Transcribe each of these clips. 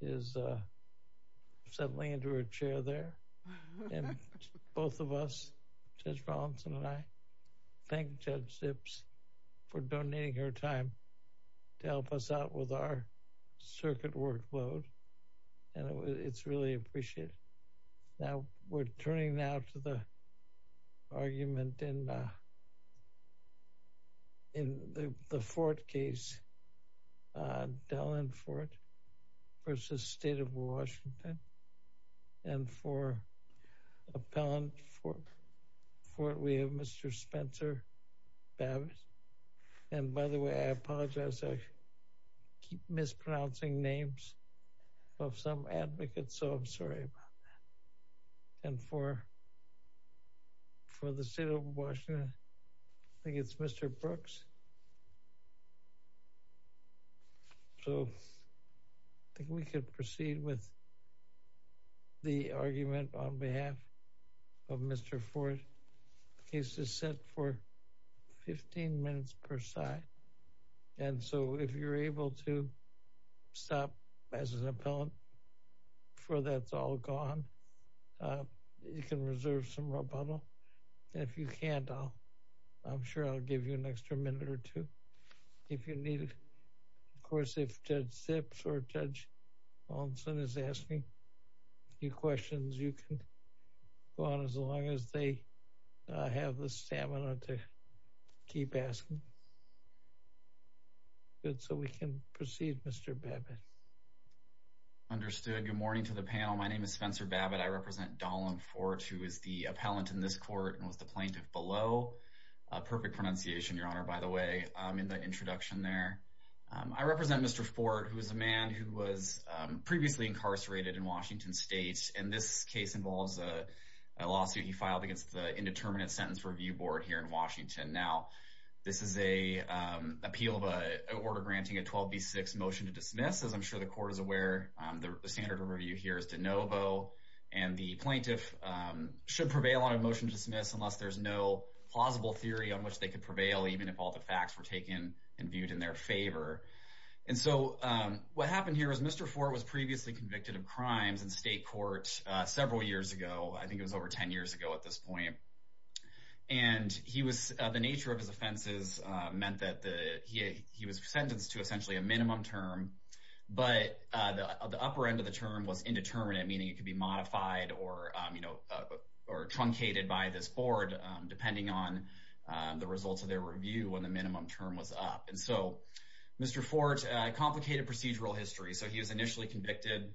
is settling into a chair there. And both of us, Judge Rollinson and I, thank Judge Zipps for donating her time to help us out with our circuit workload. And it's really appreciated. Now, we're turning now to the argument in the Fort case, Dallin Fort v. State of Washington. And for appellant for Fort, we have Mr. Spencer Babbitt. And by the way, I apologize, I mispronouncing names of some advocates, so I'm sorry about that. And for for the State of Washington, I think it's Mr. Brooks. So I think we could proceed with the argument on behalf of Mr. Fort. The case is set for 15 minutes per side. And so if you're able to stop as an appellant before that's all gone, you can reserve some rebuttal. If you can't, I'm sure I'll give you an extra minute or two. If you need, of course, if Judge Zipps or Judge Rollinson is asking you questions, you can go on as long as they have the stamina to keep asking. Good, so we can proceed, Mr. Babbitt. Understood. Good morning to the panel. My name is Spencer Babbitt. I represent Dallin Fort, who is the appellant in this court and was the plaintiff below. Perfect pronunciation, Your Honor, by the way, in the introduction there. I represent Mr. Fort, who is a man who was a lawsuit he filed against the Indeterminate Sentence Review Board here in Washington. Now, this is an appeal of an order granting a 12B6 motion to dismiss. As I'm sure the court is aware, the standard of review here is de novo. And the plaintiff should prevail on a motion to dismiss unless there's no plausible theory on which they could prevail, even if all the facts were taken and viewed in their favor. And so what happened here is Mr. Fort was previously convicted of at this point. And the nature of his offenses meant that he was sentenced to essentially a minimum term, but the upper end of the term was indeterminate, meaning it could be modified or truncated by this board, depending on the results of their review when the minimum term was up. And so, Mr. Fort, complicated procedural history. So he was initially convicted.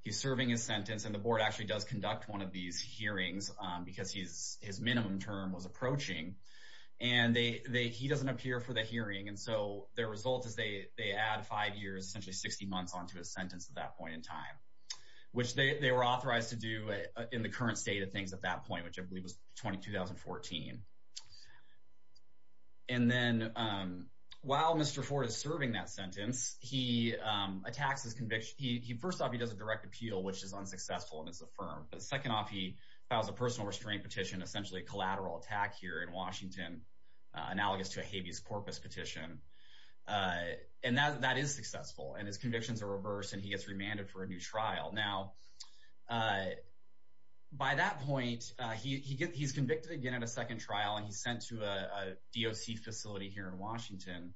He's serving his sentence. And the board actually does conduct one of these hearings because his minimum term was approaching. And he doesn't appear for the hearing. And so their result is they add five years, essentially 60 months, onto his sentence at that point in time, which they were authorized to do in the current state of things at that point, which I believe was 2014. And then while Mr. Fort is serving that sentence, he attacks his conviction. First off, he does a direct appeal, which is unsuccessful and is affirmed. But second off, he files a personal restraint petition, essentially a collateral attack here in Washington, analogous to a habeas corpus petition. And that is successful. And his convictions are reversed, and he gets remanded for a new trial. Now, by that point, he's convicted again at a second trial, and he's sent to a DOC facility here in Washington.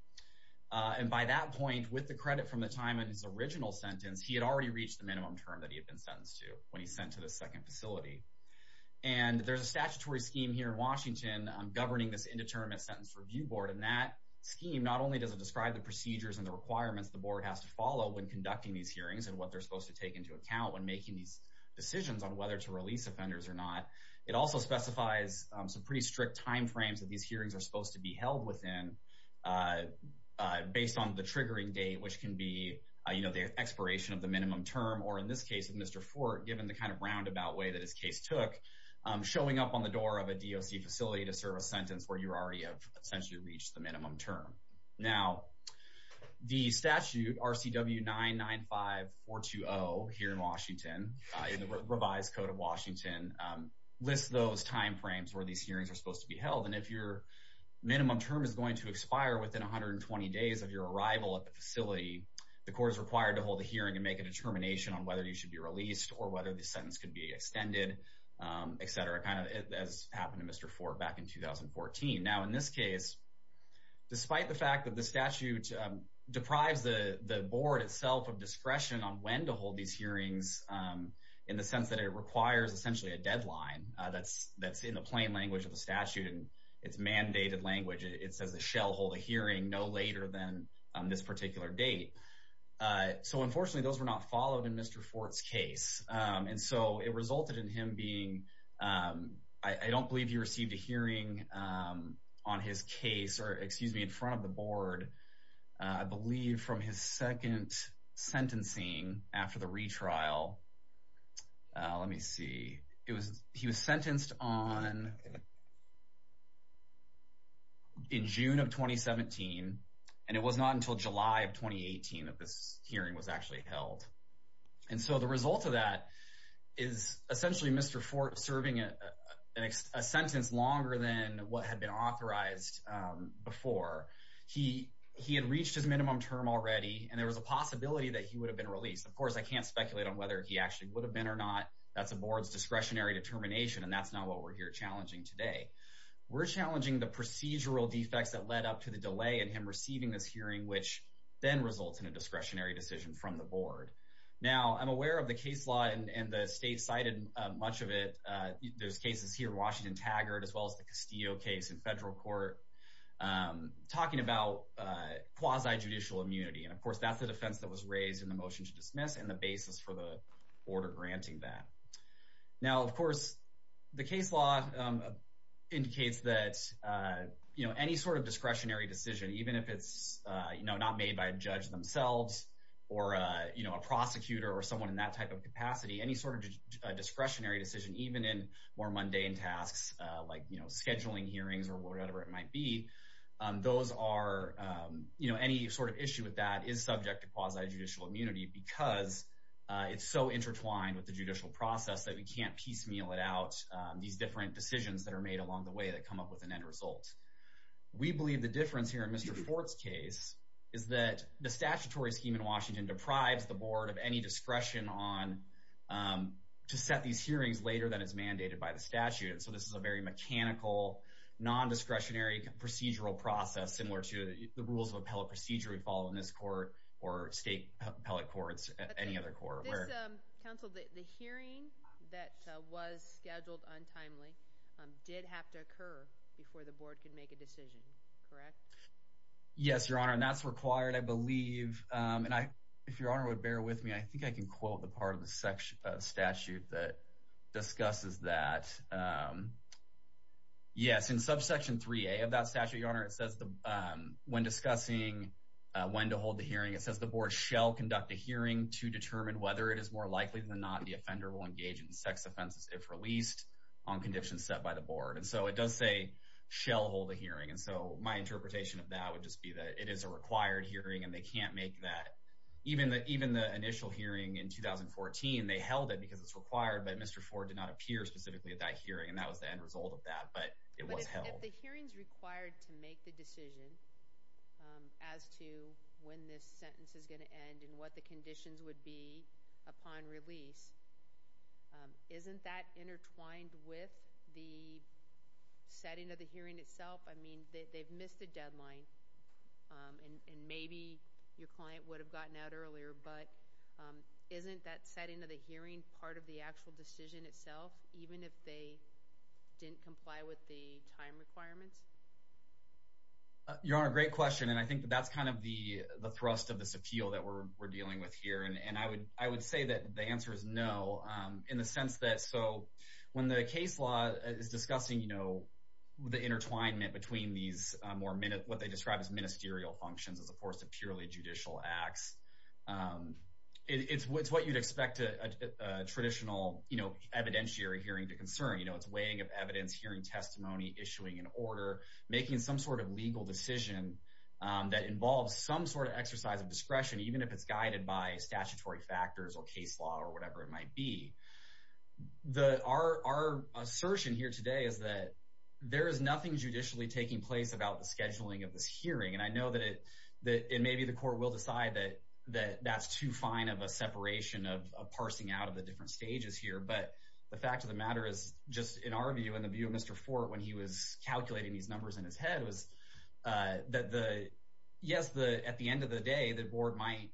And by that point, with the credit from the time in his original sentence, he had already reached the minimum term that he had been sentenced to when he's sent to the second facility. And there's a statutory scheme here in Washington governing this indeterminate sentence review board. And that scheme not only doesn't describe the procedures and the requirements the board has to follow when conducting these hearings and what they're supposed to take into account when making these decisions on whether to release offenders or not, it also specifies some pretty strict timeframes that these hearings are supposed to be held within based on the triggering date, which can be, you know, the expiration of the minimum term, or in this case of Mr. Fort, given the kind of roundabout way that his case took, showing up on the door of a DOC facility to serve a sentence where you already have essentially reached the minimum term. Now, the statute, RCW 995-420, here in Washington, in the revised code of Washington, lists those timeframes where these hearings are supposed to be held. And if your minimum term is going to expire within 120 days of your arrival at the facility, the court is required to hold a hearing and make a determination on whether you should be released or whether the sentence could be extended, et cetera, kind of as happened to Mr. Fort back in 2014. Now, in this case, despite the fact that the statute deprives the board itself of discretion on when to hold these hearings in the sense that it requires essentially a deadline that's in the plain language of the statute and it's mandated language, it says the shell hold a hearing no later than this particular date. So unfortunately, those were not followed in Mr. Fort's case. And so it resulted in him being, I don't believe he received a hearing on his case, or excuse me, in front of the board, I believe from his second sentencing after the retrial. Let me see. He was sentenced in June of 2017, and it was not until July of 2018 that this hearing was actually held. And so the result of that is essentially Mr. Fort serving a sentence longer than what had been authorized before. He had reached his minimum term already, and there was a possibility that he would have been released. Of course, I can't speculate on whether he actually would have been or not. That's the board's discretionary determination, and that's not what we're here challenging today. We're challenging the procedural defects that led up to the delay in him receiving this hearing, which then results in a discretionary decision from the board. Now, I'm aware of the case law, and the state cited much of it. There's cases here, Washington-Taggart, as well as the Castillo case in federal court, talking about quasi-judicial immunity. And of course, that's the defense that was raised in the motion to dismiss and the basis for the order granting that. Now, of course, the case law indicates that any sort of discretionary decision, even if it's not made by a judge themselves or a prosecutor or someone in that type of capacity, any sort of discretionary decision, even in more mundane tasks like scheduling hearings or whatever it might be, those are, you know, any sort of issue with that is subject to quasi-judicial immunity because it's so intertwined with the judicial process that we can't piecemeal it out, these different decisions that are made along the way that come up with an end result. We believe the difference here in Mr. Fort's case is that the statutory scheme in Washington deprives the board of any discretion to set these hearings later than is mandated by the statute. So this is a very mechanical, non-discretionary procedural process similar to the rules of appellate procedure we follow in this court or state appellate courts, any other court. Counsel, the hearing that was scheduled untimely did have to occur before the board could make a decision, correct? Yes, Your Honor, and that's required, I believe. If Your Honor would bear with me, I think I can quote the part of the statute that says, yes, in subsection 3A of that statute, Your Honor, it says when discussing when to hold the hearing, it says the board shall conduct a hearing to determine whether it is more likely than not the offender will engage in sex offenses if released on conditions set by the board. And so it does say shall hold a hearing. And so my interpretation of that would just be that it is a required hearing and they can't make that, even the initial hearing in 2014, they held it because it's required, but Mr. Ford did not appear specifically at that hearing and that was the end result of that, but it was held. But if the hearing's required to make the decision as to when this sentence is going to end and what the conditions would be upon release, isn't that intertwined with the setting of the hearing itself? I mean, they've missed a deadline and maybe your client would have gotten out earlier, but isn't that setting of the hearing part of the actual decision itself, even if they didn't comply with the time requirements? Your Honor, great question. And I think that that's kind of the thrust of this appeal that we're dealing with here. And I would say that the answer is no, in the sense that, so when the case law is discussing, you know, the intertwinement between these more, what they describe as ministerial functions as opposed to purely judicial acts, it's what you'd expect a traditional, you know, evidentiary hearing to concern. You know, it's weighing of evidence, hearing testimony, issuing an order, making some sort of legal decision that involves some sort of exercise of discretion, even if it's guided by statutory factors or case law or whatever it might be. Our assertion here today is that there is nothing judicially taking place about the scheduling of this hearing. And I know that it may be the that that's too fine of a separation of parsing out of the different stages here. But the fact of the matter is just in our view, in the view of Mr. Fort, when he was calculating these numbers in his head was that the, yes, at the end of the day, the board might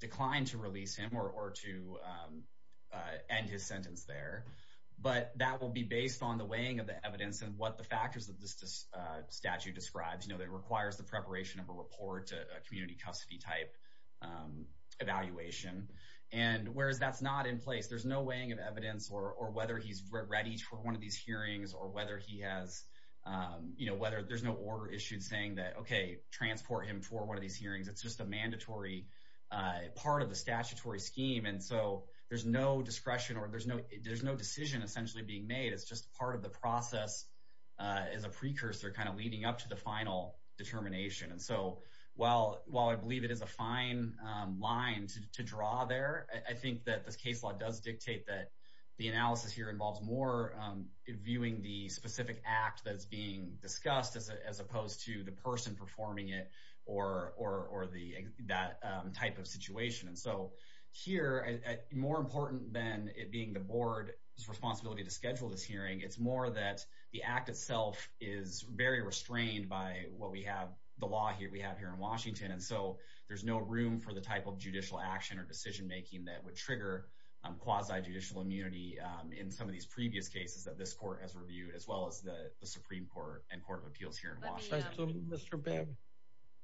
decline to release him or to end his sentence there. But that will be based on the weighing of the evidence and what the factors of this statute describes. You know, that requires the preparation of a report, a community custody type evaluation. And whereas that's not in place, there's no weighing of evidence or whether he's ready for one of these hearings or whether he has, you know, whether there's no order issued saying that, OK, transport him for one of these hearings. It's just a mandatory part of the statutory scheme. And so there's no discretion or there's no there's no decision essentially being made. It's just part of the process is a precursor kind of leading up to the final determination. And so while I believe it is a fine line to draw there, I think that this case law does dictate that the analysis here involves more viewing the specific act that's being discussed as opposed to the person performing it or that type of situation. And so here, more important than it being the board's responsibility to schedule this hearing, it's more that the act itself is very restrained by what we have, the law here we have here in Washington. And so there's no room for the type of judicial action or decision making that would trigger quasi judicial immunity in some of these previous cases that this court has reviewed, as well as the Supreme Court and Court of Appeals here in Washington. Mr. Babbitt,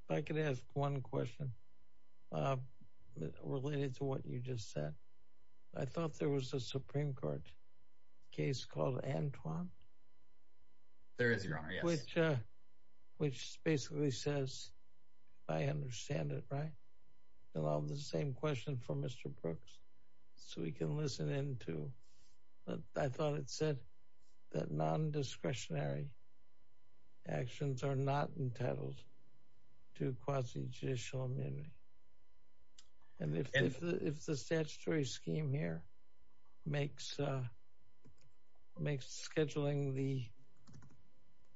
if I could ask one question related to what you just said. I thought there was a question for Mr. Antoine. There is, Your Honor, yes. Which basically says, I understand it, right? And I'll have the same question for Mr. Brooks, so we can listen in too. But I thought it said that non-discretionary actions are not entitled to quasi judicial immunity. And if the statutory scheme here makes scheduling the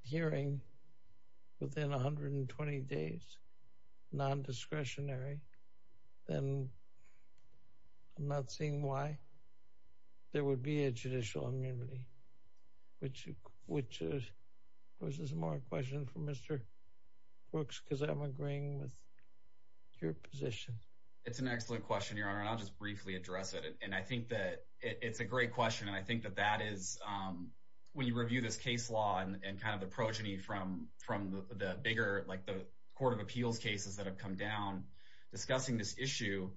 hearing within 120 days non-discretionary, then I'm not seeing why there would be a judicial immunity, which is a smart question for Mr. Brooks, because I'm agreeing with your position. It's an excellent question, Your Honor, and I'll just briefly address it. And I think that it's a great question. And I think that that is, when you review this case law and kind of the progeny from the bigger, like the Court of Appeals cases that have come down discussing this issue,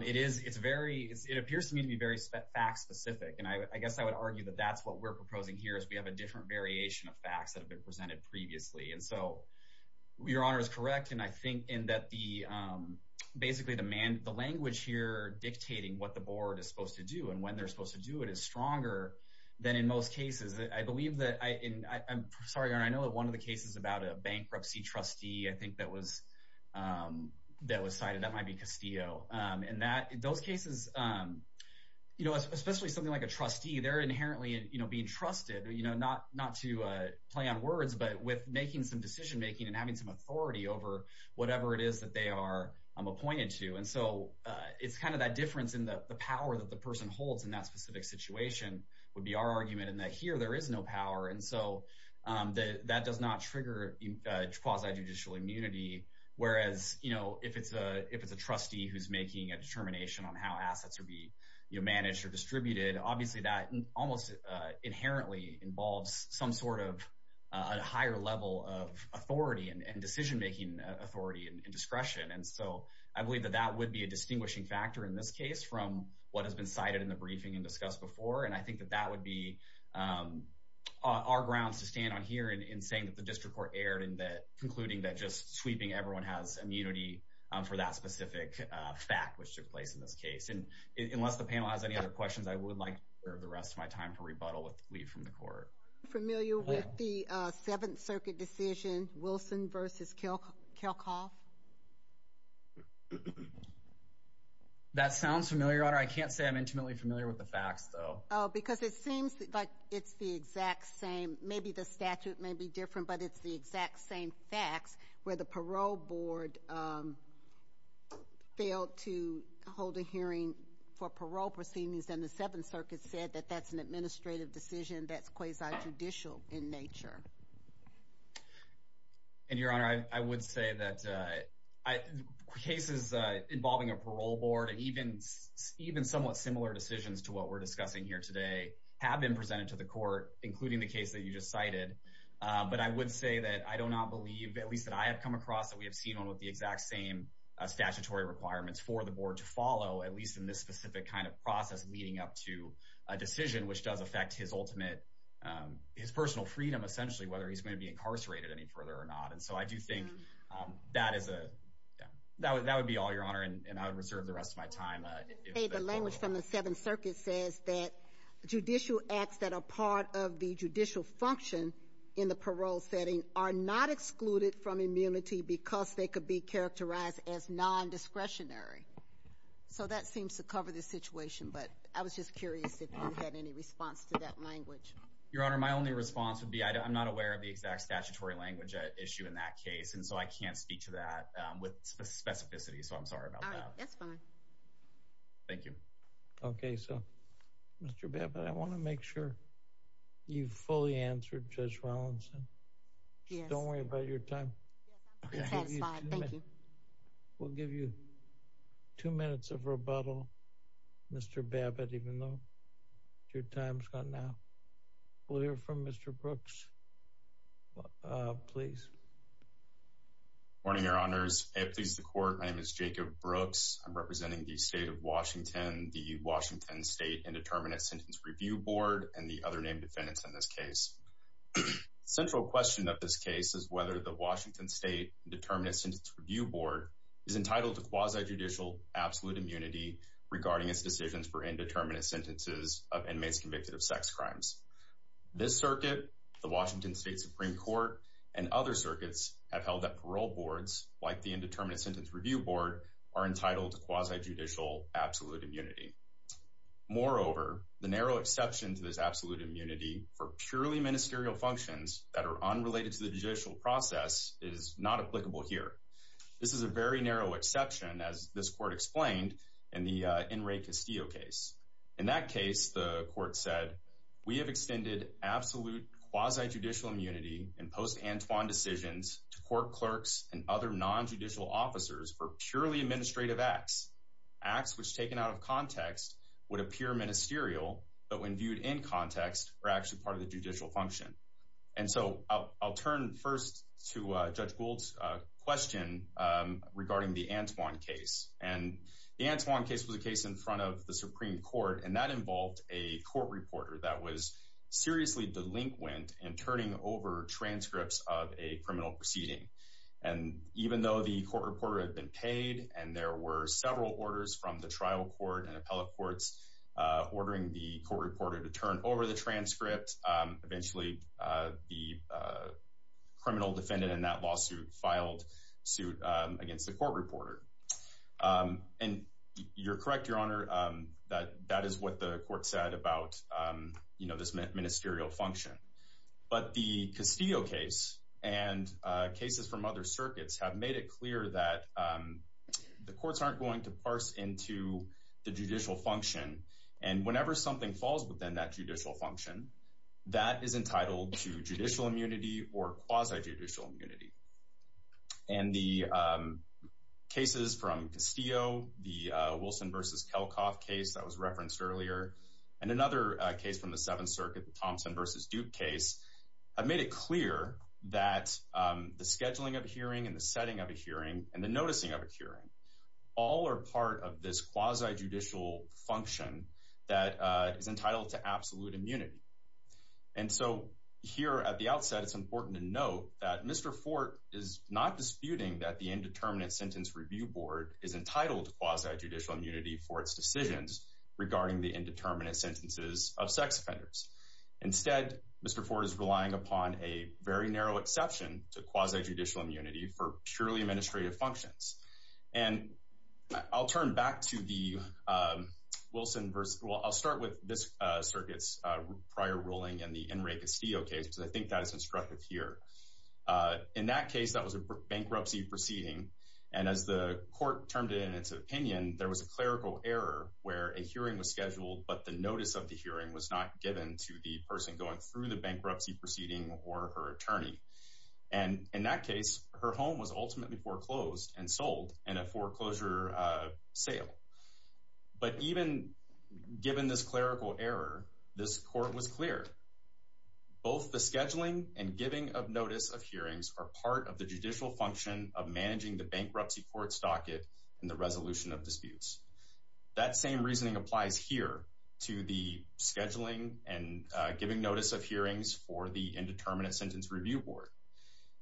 it appears to me to be very fact specific. And I guess I would argue that that's what we're proposing here, is we have a different variation of facts that have been presented previously. And so, Your Honor is correct. And I think in that the, basically, the language here dictating what the board is supposed to do and when they're supposed to do it is stronger than in most cases. I believe that, I'm sorry, Your Honor, I know that one of the cases about a bankruptcy trustee, I think that was cited, that might be Castillo. And those cases, you know, especially something like a trustee, they're inherently being trusted, you know, not to play on words, but with making some decision making and having some authority over whatever it is that they are appointed to. And so, it's kind of that difference in the power that the person holds in that specific situation would be our argument in that here there is no power. And so, that does not trigger quasi-judicial immunity. Whereas, you know, if it's a trustee who's making a determination on how assets would be, you know, managed or distributed, obviously that almost inherently involves some sort of a higher level of authority and decision making authority and discretion. And so, I believe that that would be a distinguishing factor in this case from what has been cited in the briefing and discussed before. And I think that that would be our grounds to stand on here in saying that the district court erred in that, everyone has immunity for that specific fact which took place in this case. And unless the panel has any other questions, I would like to reserve the rest of my time to rebuttal with the plea from the court. Are you familiar with the 7th Circuit decision, Wilson v. Kelcoff? That sounds familiar, Your Honor. I can't say I'm intimately familiar with the facts, though. Oh, because it seems like it's the exact same. Maybe the parole board failed to hold a hearing for parole proceedings and the 7th Circuit said that that's an administrative decision that's quasi-judicial in nature. And, Your Honor, I would say that cases involving a parole board and even somewhat similar decisions to what we're discussing here today have been presented to the court, including the case that you just cited. But I would say that I do not believe, at least that I have come across, that we have seen one with the exact same statutory requirements for the board to follow, at least in this specific kind of process leading up to a decision which does affect his personal freedom, essentially, whether he's going to be incarcerated any further or not. And so I do think that would be all, Your Honor, and I would reserve the rest of my time. The language from the 7th Circuit says that judicial acts that are part of the judicial function in the parole setting are not excluded from immunity because they could be characterized as non-discretionary. So that seems to cover this situation, but I was just curious if you had any response to that language. Your Honor, my only response would be I'm not aware of the exact statutory language at issue in that case, and so I can't speak to that with specificity, so I'm sorry about that. All right, that's fine. Thank you. Okay, so, Mr. Babbitt, I want to make sure you've fully answered Judge Rollinson. Yes. Don't worry about your time. Yes, I'm satisfied. Thank you. We'll give you two minutes of rebuttal, Mr. Babbitt, even though your time's gone now. We'll hear from Mr. Brooks, please. Good morning, Your Honors. I have the pleasure to court. My name is Jacob Brooks. I'm representing the State of Washington, the Washington State Indeterminate Sentence Review Board, and the other named defendants in this case. The central question of this case is whether the Washington State Indeterminate Sentence Review Board is entitled to quasi-judicial absolute immunity regarding its decisions for indeterminate sentences of inmates convicted of sex crimes. This circuit, the Washington State Supreme Court, and other circuits have held that parole boards, like the Indeterminate Sentence Review Board, are entitled to quasi-judicial absolute immunity. Moreover, the narrow exception to this absolute immunity for purely ministerial functions that are unrelated to the judicial process is not applicable here. This is a very We have extended absolute quasi-judicial immunity in post-Antoine decisions to court clerks and other non-judicial officers for purely administrative acts. Acts which, taken out of context, would appear ministerial, but when viewed in context, are actually part of the judicial function. And so I'll turn first to Judge Gould's question regarding the Antoine case. And the Antoine case was a case in front of the Supreme Court, and that involved a court reporter that was seriously delinquent in turning over transcripts of a criminal proceeding. And even though the court reporter had been paid and there were several orders from the trial court and appellate courts ordering the court reporter to turn over the transcript, eventually the criminal defendant in that lawsuit filed suit against the court reporter. And you're correct, Your Honor, that that is what the court said about, you know, this ministerial function. But the Castillo case and cases from other circuits have made it clear that the courts aren't going to parse into the judicial function. And whenever something falls within that judicial function, that is entitled to judicial immunity or quasi-judicial immunity. And the cases from Castillo, the Wilson v. Kelcoff case that was referenced earlier, and another case from the Seventh Circuit, the Thompson v. Duke case, have made it clear that the scheduling of a hearing and the setting of a hearing and the noticing of a hearing all are part of this quasi-judicial function that is entitled to absolute immunity. And so here at the outset, it's important to note that Mr. Fort is not disputing that the Indeterminate Sentence Review Board is entitled to quasi-judicial immunity for its decisions regarding the indeterminate sentences of sex offenders. Instead, Mr. Fort is relying upon a very narrow exception to quasi-judicial immunity for purely administrative functions. And I'll turn back to the Wilson v. — well, I'll start with this circuit's prior ruling and the Enrique Castillo case, because I think that is instructive here. In that case, that was a bankruptcy proceeding. And as the court termed it in its opinion, there was a clerical error where a hearing was scheduled, but the notice of the hearing was not given to the person going through the bankruptcy proceeding or her attorney. And in that case, her home was ultimately foreclosed and sold in a foreclosure sale. But even given this clerical error, this court was clear. Both the scheduling and giving of notice of hearings are part of the judicial function of managing the bankruptcy court's docket and the resolution of disputes. That same reasoning applies here to the scheduling and giving notice of hearings for the indeterminate sentence review board.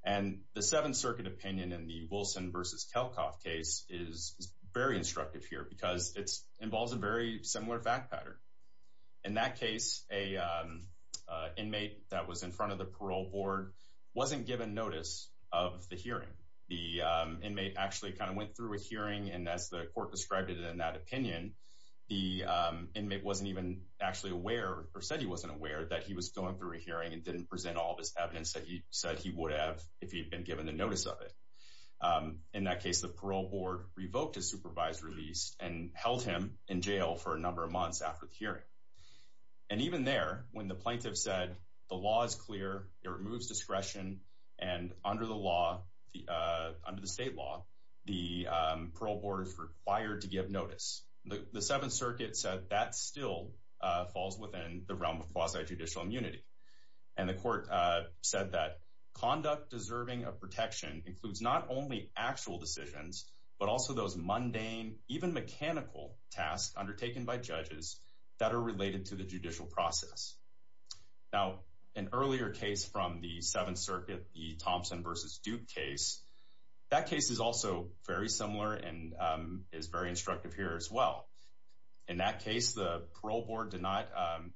And the Seventh Circuit opinion in the Wilson v. Kelkoff case is very instructive here because it involves a very similar fact pattern. In that case, an inmate that was in front of the parole board wasn't given notice of the hearing. The inmate actually kind of went through a hearing, and as the court described it in that opinion, the inmate wasn't even actually aware or said he wasn't aware that he was going through a hearing and didn't present all this evidence that he said he would have if he had been given the notice of it. In that case, the parole board revoked his supervised release and held him in jail for a number of months after the hearing. And even there, when the plaintiff said the law is clear, it removes discretion, and under the state law, the parole board is given notice. The Seventh Circuit said that still falls within the realm of quasi-judicial immunity. And the court said that conduct deserving of protection includes not only actual decisions, but also those mundane, even mechanical tasks undertaken by judges that are related to the judicial process. Now, an earlier case from the Seventh Circuit, the Thompson v. Duke case, that case is also very similar and is very instructive here as well. In that case, the parole board did not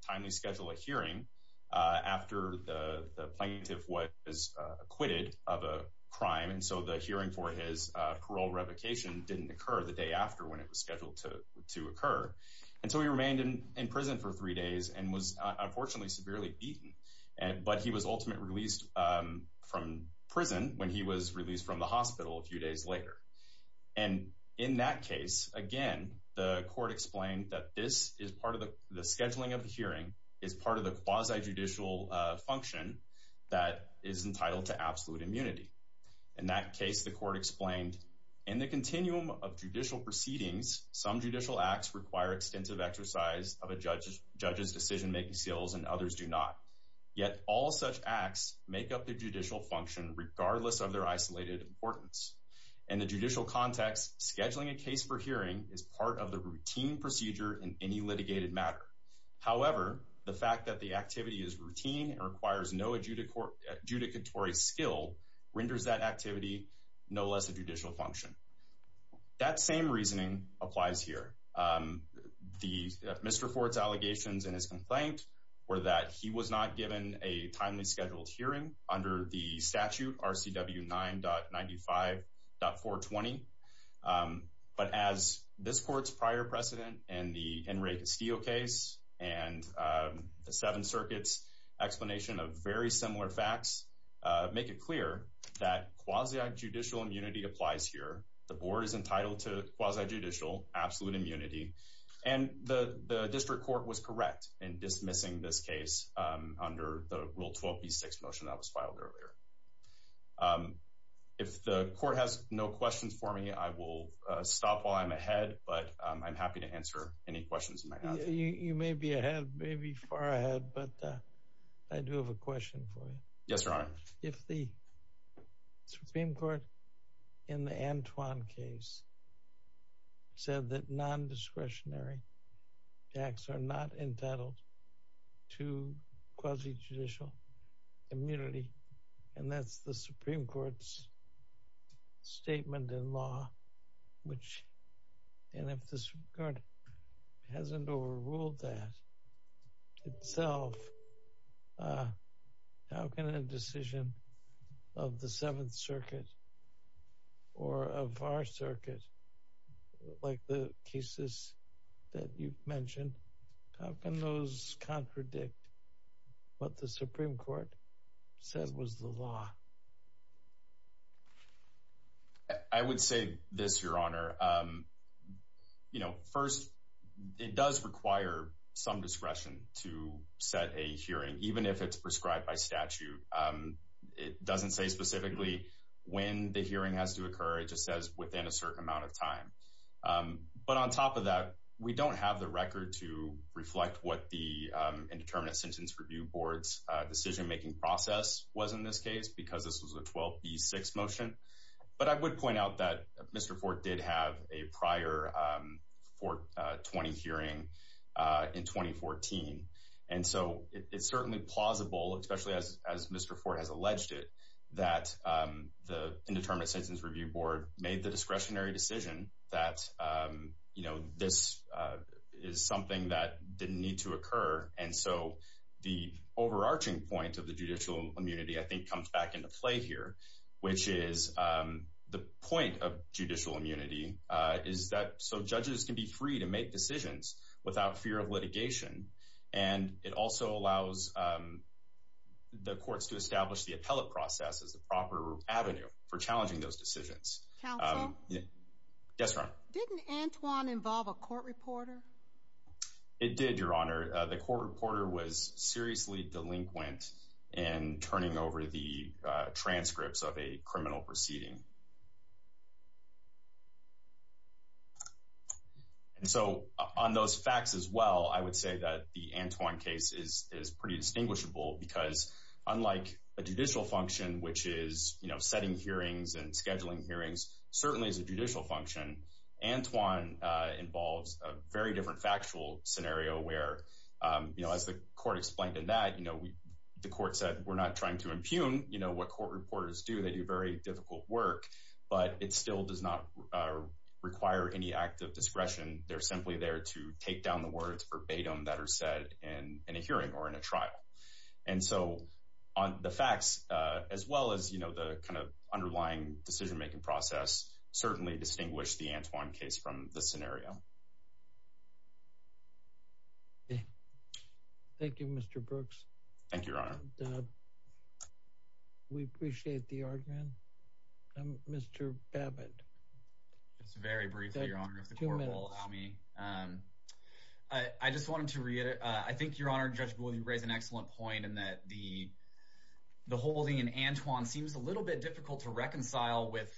timely schedule a hearing after the plaintiff was acquitted of a crime, and so the hearing for his parole revocation didn't occur the day after when it was scheduled to occur. And so he remained in prison for three days and was unfortunately severely beaten. But he was ultimately released from prison when he was released from the hospital a few days later. And in that case, again, the court explained that this is part of the scheduling of the hearing, is part of the quasi-judicial function that is entitled to absolute immunity. In that case, the court explained, in the continuum of judicial proceedings, some judicial acts require extensive exercise of a judge's decision-making skills and others do not. Yet all such acts make up the judicial function regardless of their isolated importance. In the judicial context, scheduling a case for hearing is part of the routine procedure in any litigated matter. However, the fact that the activity is routine and requires no adjudicatory skill renders that activity no less a concern. The misreports allegations in his complaint were that he was not given a timely scheduled hearing under the statute RCW 9.95.420. But as this court's prior precedent in the Enrique Steele case and the Seventh Circuit's explanation of very similar facts make it clear that quasi-judicial immunity applies here. The board is entitled to quasi-judicial absolute immunity and the district court was correct in dismissing this case under the Rule 12b6 motion that was filed earlier. If the court has no questions for me, I will stop while I'm ahead, but I'm happy to answer any questions you might have. You may be ahead, maybe far ahead, but I do have a question for you. Yes, Your Honor. If the Supreme Court in the Antoine case said that non-discretionary acts are not entitled to quasi-judicial immunity, and that's the Supreme Court's statement in law, and if the Supreme Court hasn't overruled that itself, how can a decision of the Seventh Circuit or of our circuit, like the cases that you've mentioned, how can those contradict what the Supreme Court said was the law? I would say this, Your Honor. First, it does require some discretion to set a hearing, even if it's prescribed by statute. It doesn't say specifically when the hearing has to occur, it just says within a certain amount of time. But on top of that, we don't have the record to reflect what the Indeterminate Sentence Review Board's decision-making process was in this case, because this was a 12B6 motion. But I would point out that Mr. Fort did have a prior Fort 20 hearing in 2014. And so it's certainly plausible, especially as Mr. Fort has alleged it, that the Indeterminate Sentence Review Board made the discretionary decision that this is something that didn't need to occur. And so the overarching point of the judicial immunity, I think, comes back into play here, which is the point of judicial immunity is that, so judges can be free to make decisions without fear of litigation. And it also allows the courts to establish the appellate process as the proper avenue for challenging those decisions. Counsel. Yes, ma'am. Didn't Antoine involve a court reporter? It did, Your Honor. The court reporter was over the transcripts of a criminal proceeding. And so on those facts as well, I would say that the Antoine case is pretty distinguishable, because unlike a judicial function, which is setting hearings and scheduling hearings, certainly as a judicial function, Antoine involves a very different factual scenario where, you know, as the court explained in that, you know, the court said, we're not trying to impugn, you know, what court reporters do. They do very difficult work, but it still does not require any act of discretion. They're simply there to take down the words verbatim that are said in a hearing or in a trial. And so on the facts, as well as, you know, the kind of underlying decision-making process, certainly distinguish the Antoine case from this scenario. Thank you, Mr. Brooks. Thank you, Your Honor. We appreciate the argument. Mr. Babbitt. Just very briefly, Your Honor, if the court will allow me. I just wanted to reiterate, I think, Your Honor, Judge Boole, you raise an excellent point in that the holding in Antoine seems a little bit difficult to reconcile with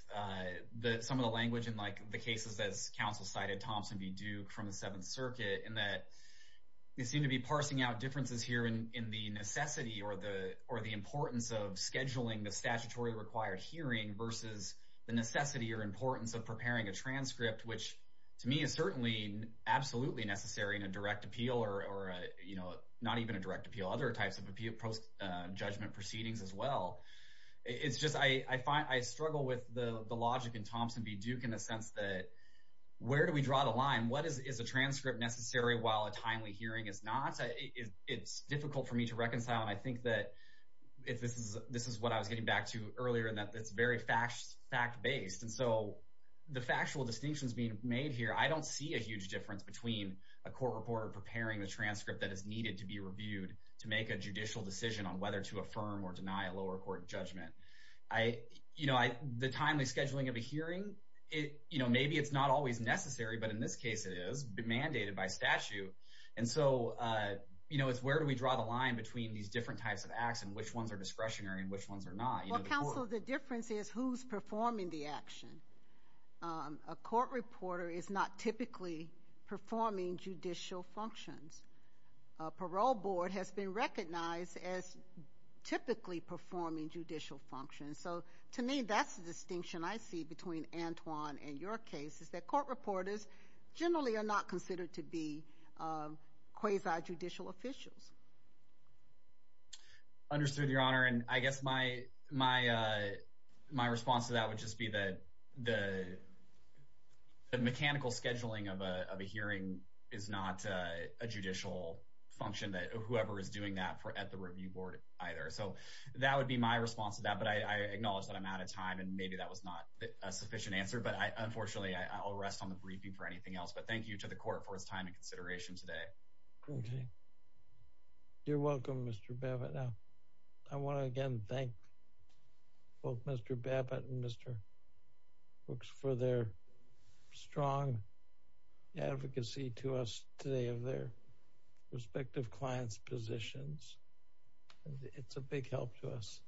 some of the language in, like, the cases, as counsel cited, Thompson v. Duke from the Seventh Circuit, in that they seem to be parsing out differences here in the necessity or the importance of scheduling the statutory required hearing versus the necessity or importance of preparing a transcript, which, to me, is certainly absolutely necessary in a direct appeal or, you know, not even a direct appeal. Other types of judgment proceedings, as well. It's just, I struggle with the logic in Thompson v. Duke in a sense that, where do we draw the line? What is a transcript necessary while a timely hearing is not? It's difficult for me to reconcile, and I think that this is what I was getting back to earlier, and that it's very fact-based. And so, the factual distinctions being made here, I don't see a huge difference between a court reporter preparing the transcript that is needed to be reviewed to make a judicial decision on whether to affirm or deny a lower court judgment. I, you know, the timely scheduling of a hearing, it, you know, maybe it's not always necessary, but in this case, it is mandated by statute. And so, you know, it's where do we draw the line between these different types of acts and which ones are discretionary and which ones are not? Well, counsel, the difference is who's performing the action. A court reporter is not typically performing judicial functions. A parole board has been recognized as typically performing judicial functions. So, to me, that's the distinction I see between Antwon and your case, is that court reporters generally are not considered to be quasi-judicial officials. Understood, Your Honor, and I guess my response to that would just be that the mechanical scheduling of a hearing is not a judicial function that whoever is doing that at the review board either. So, that would be my response to that, but I acknowledge that I'm out of time and maybe that was not a sufficient answer. But, unfortunately, I'll rest on the briefing for anything else. But thank you to the court for its time and consideration today. Okay. You're welcome, Mr. Babbitt. Now, I want to again thank both Mr. Babbitt and Mr. Brooks for their strong advocacy to us today of their respective clients' positions. It's a big help to us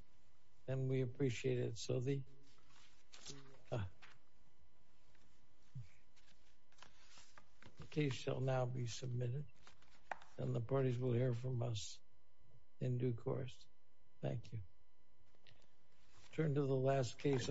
and we appreciate it. So, the case shall now be submitted and the parties will hear from us in due course. Thank you. Turn to the last case.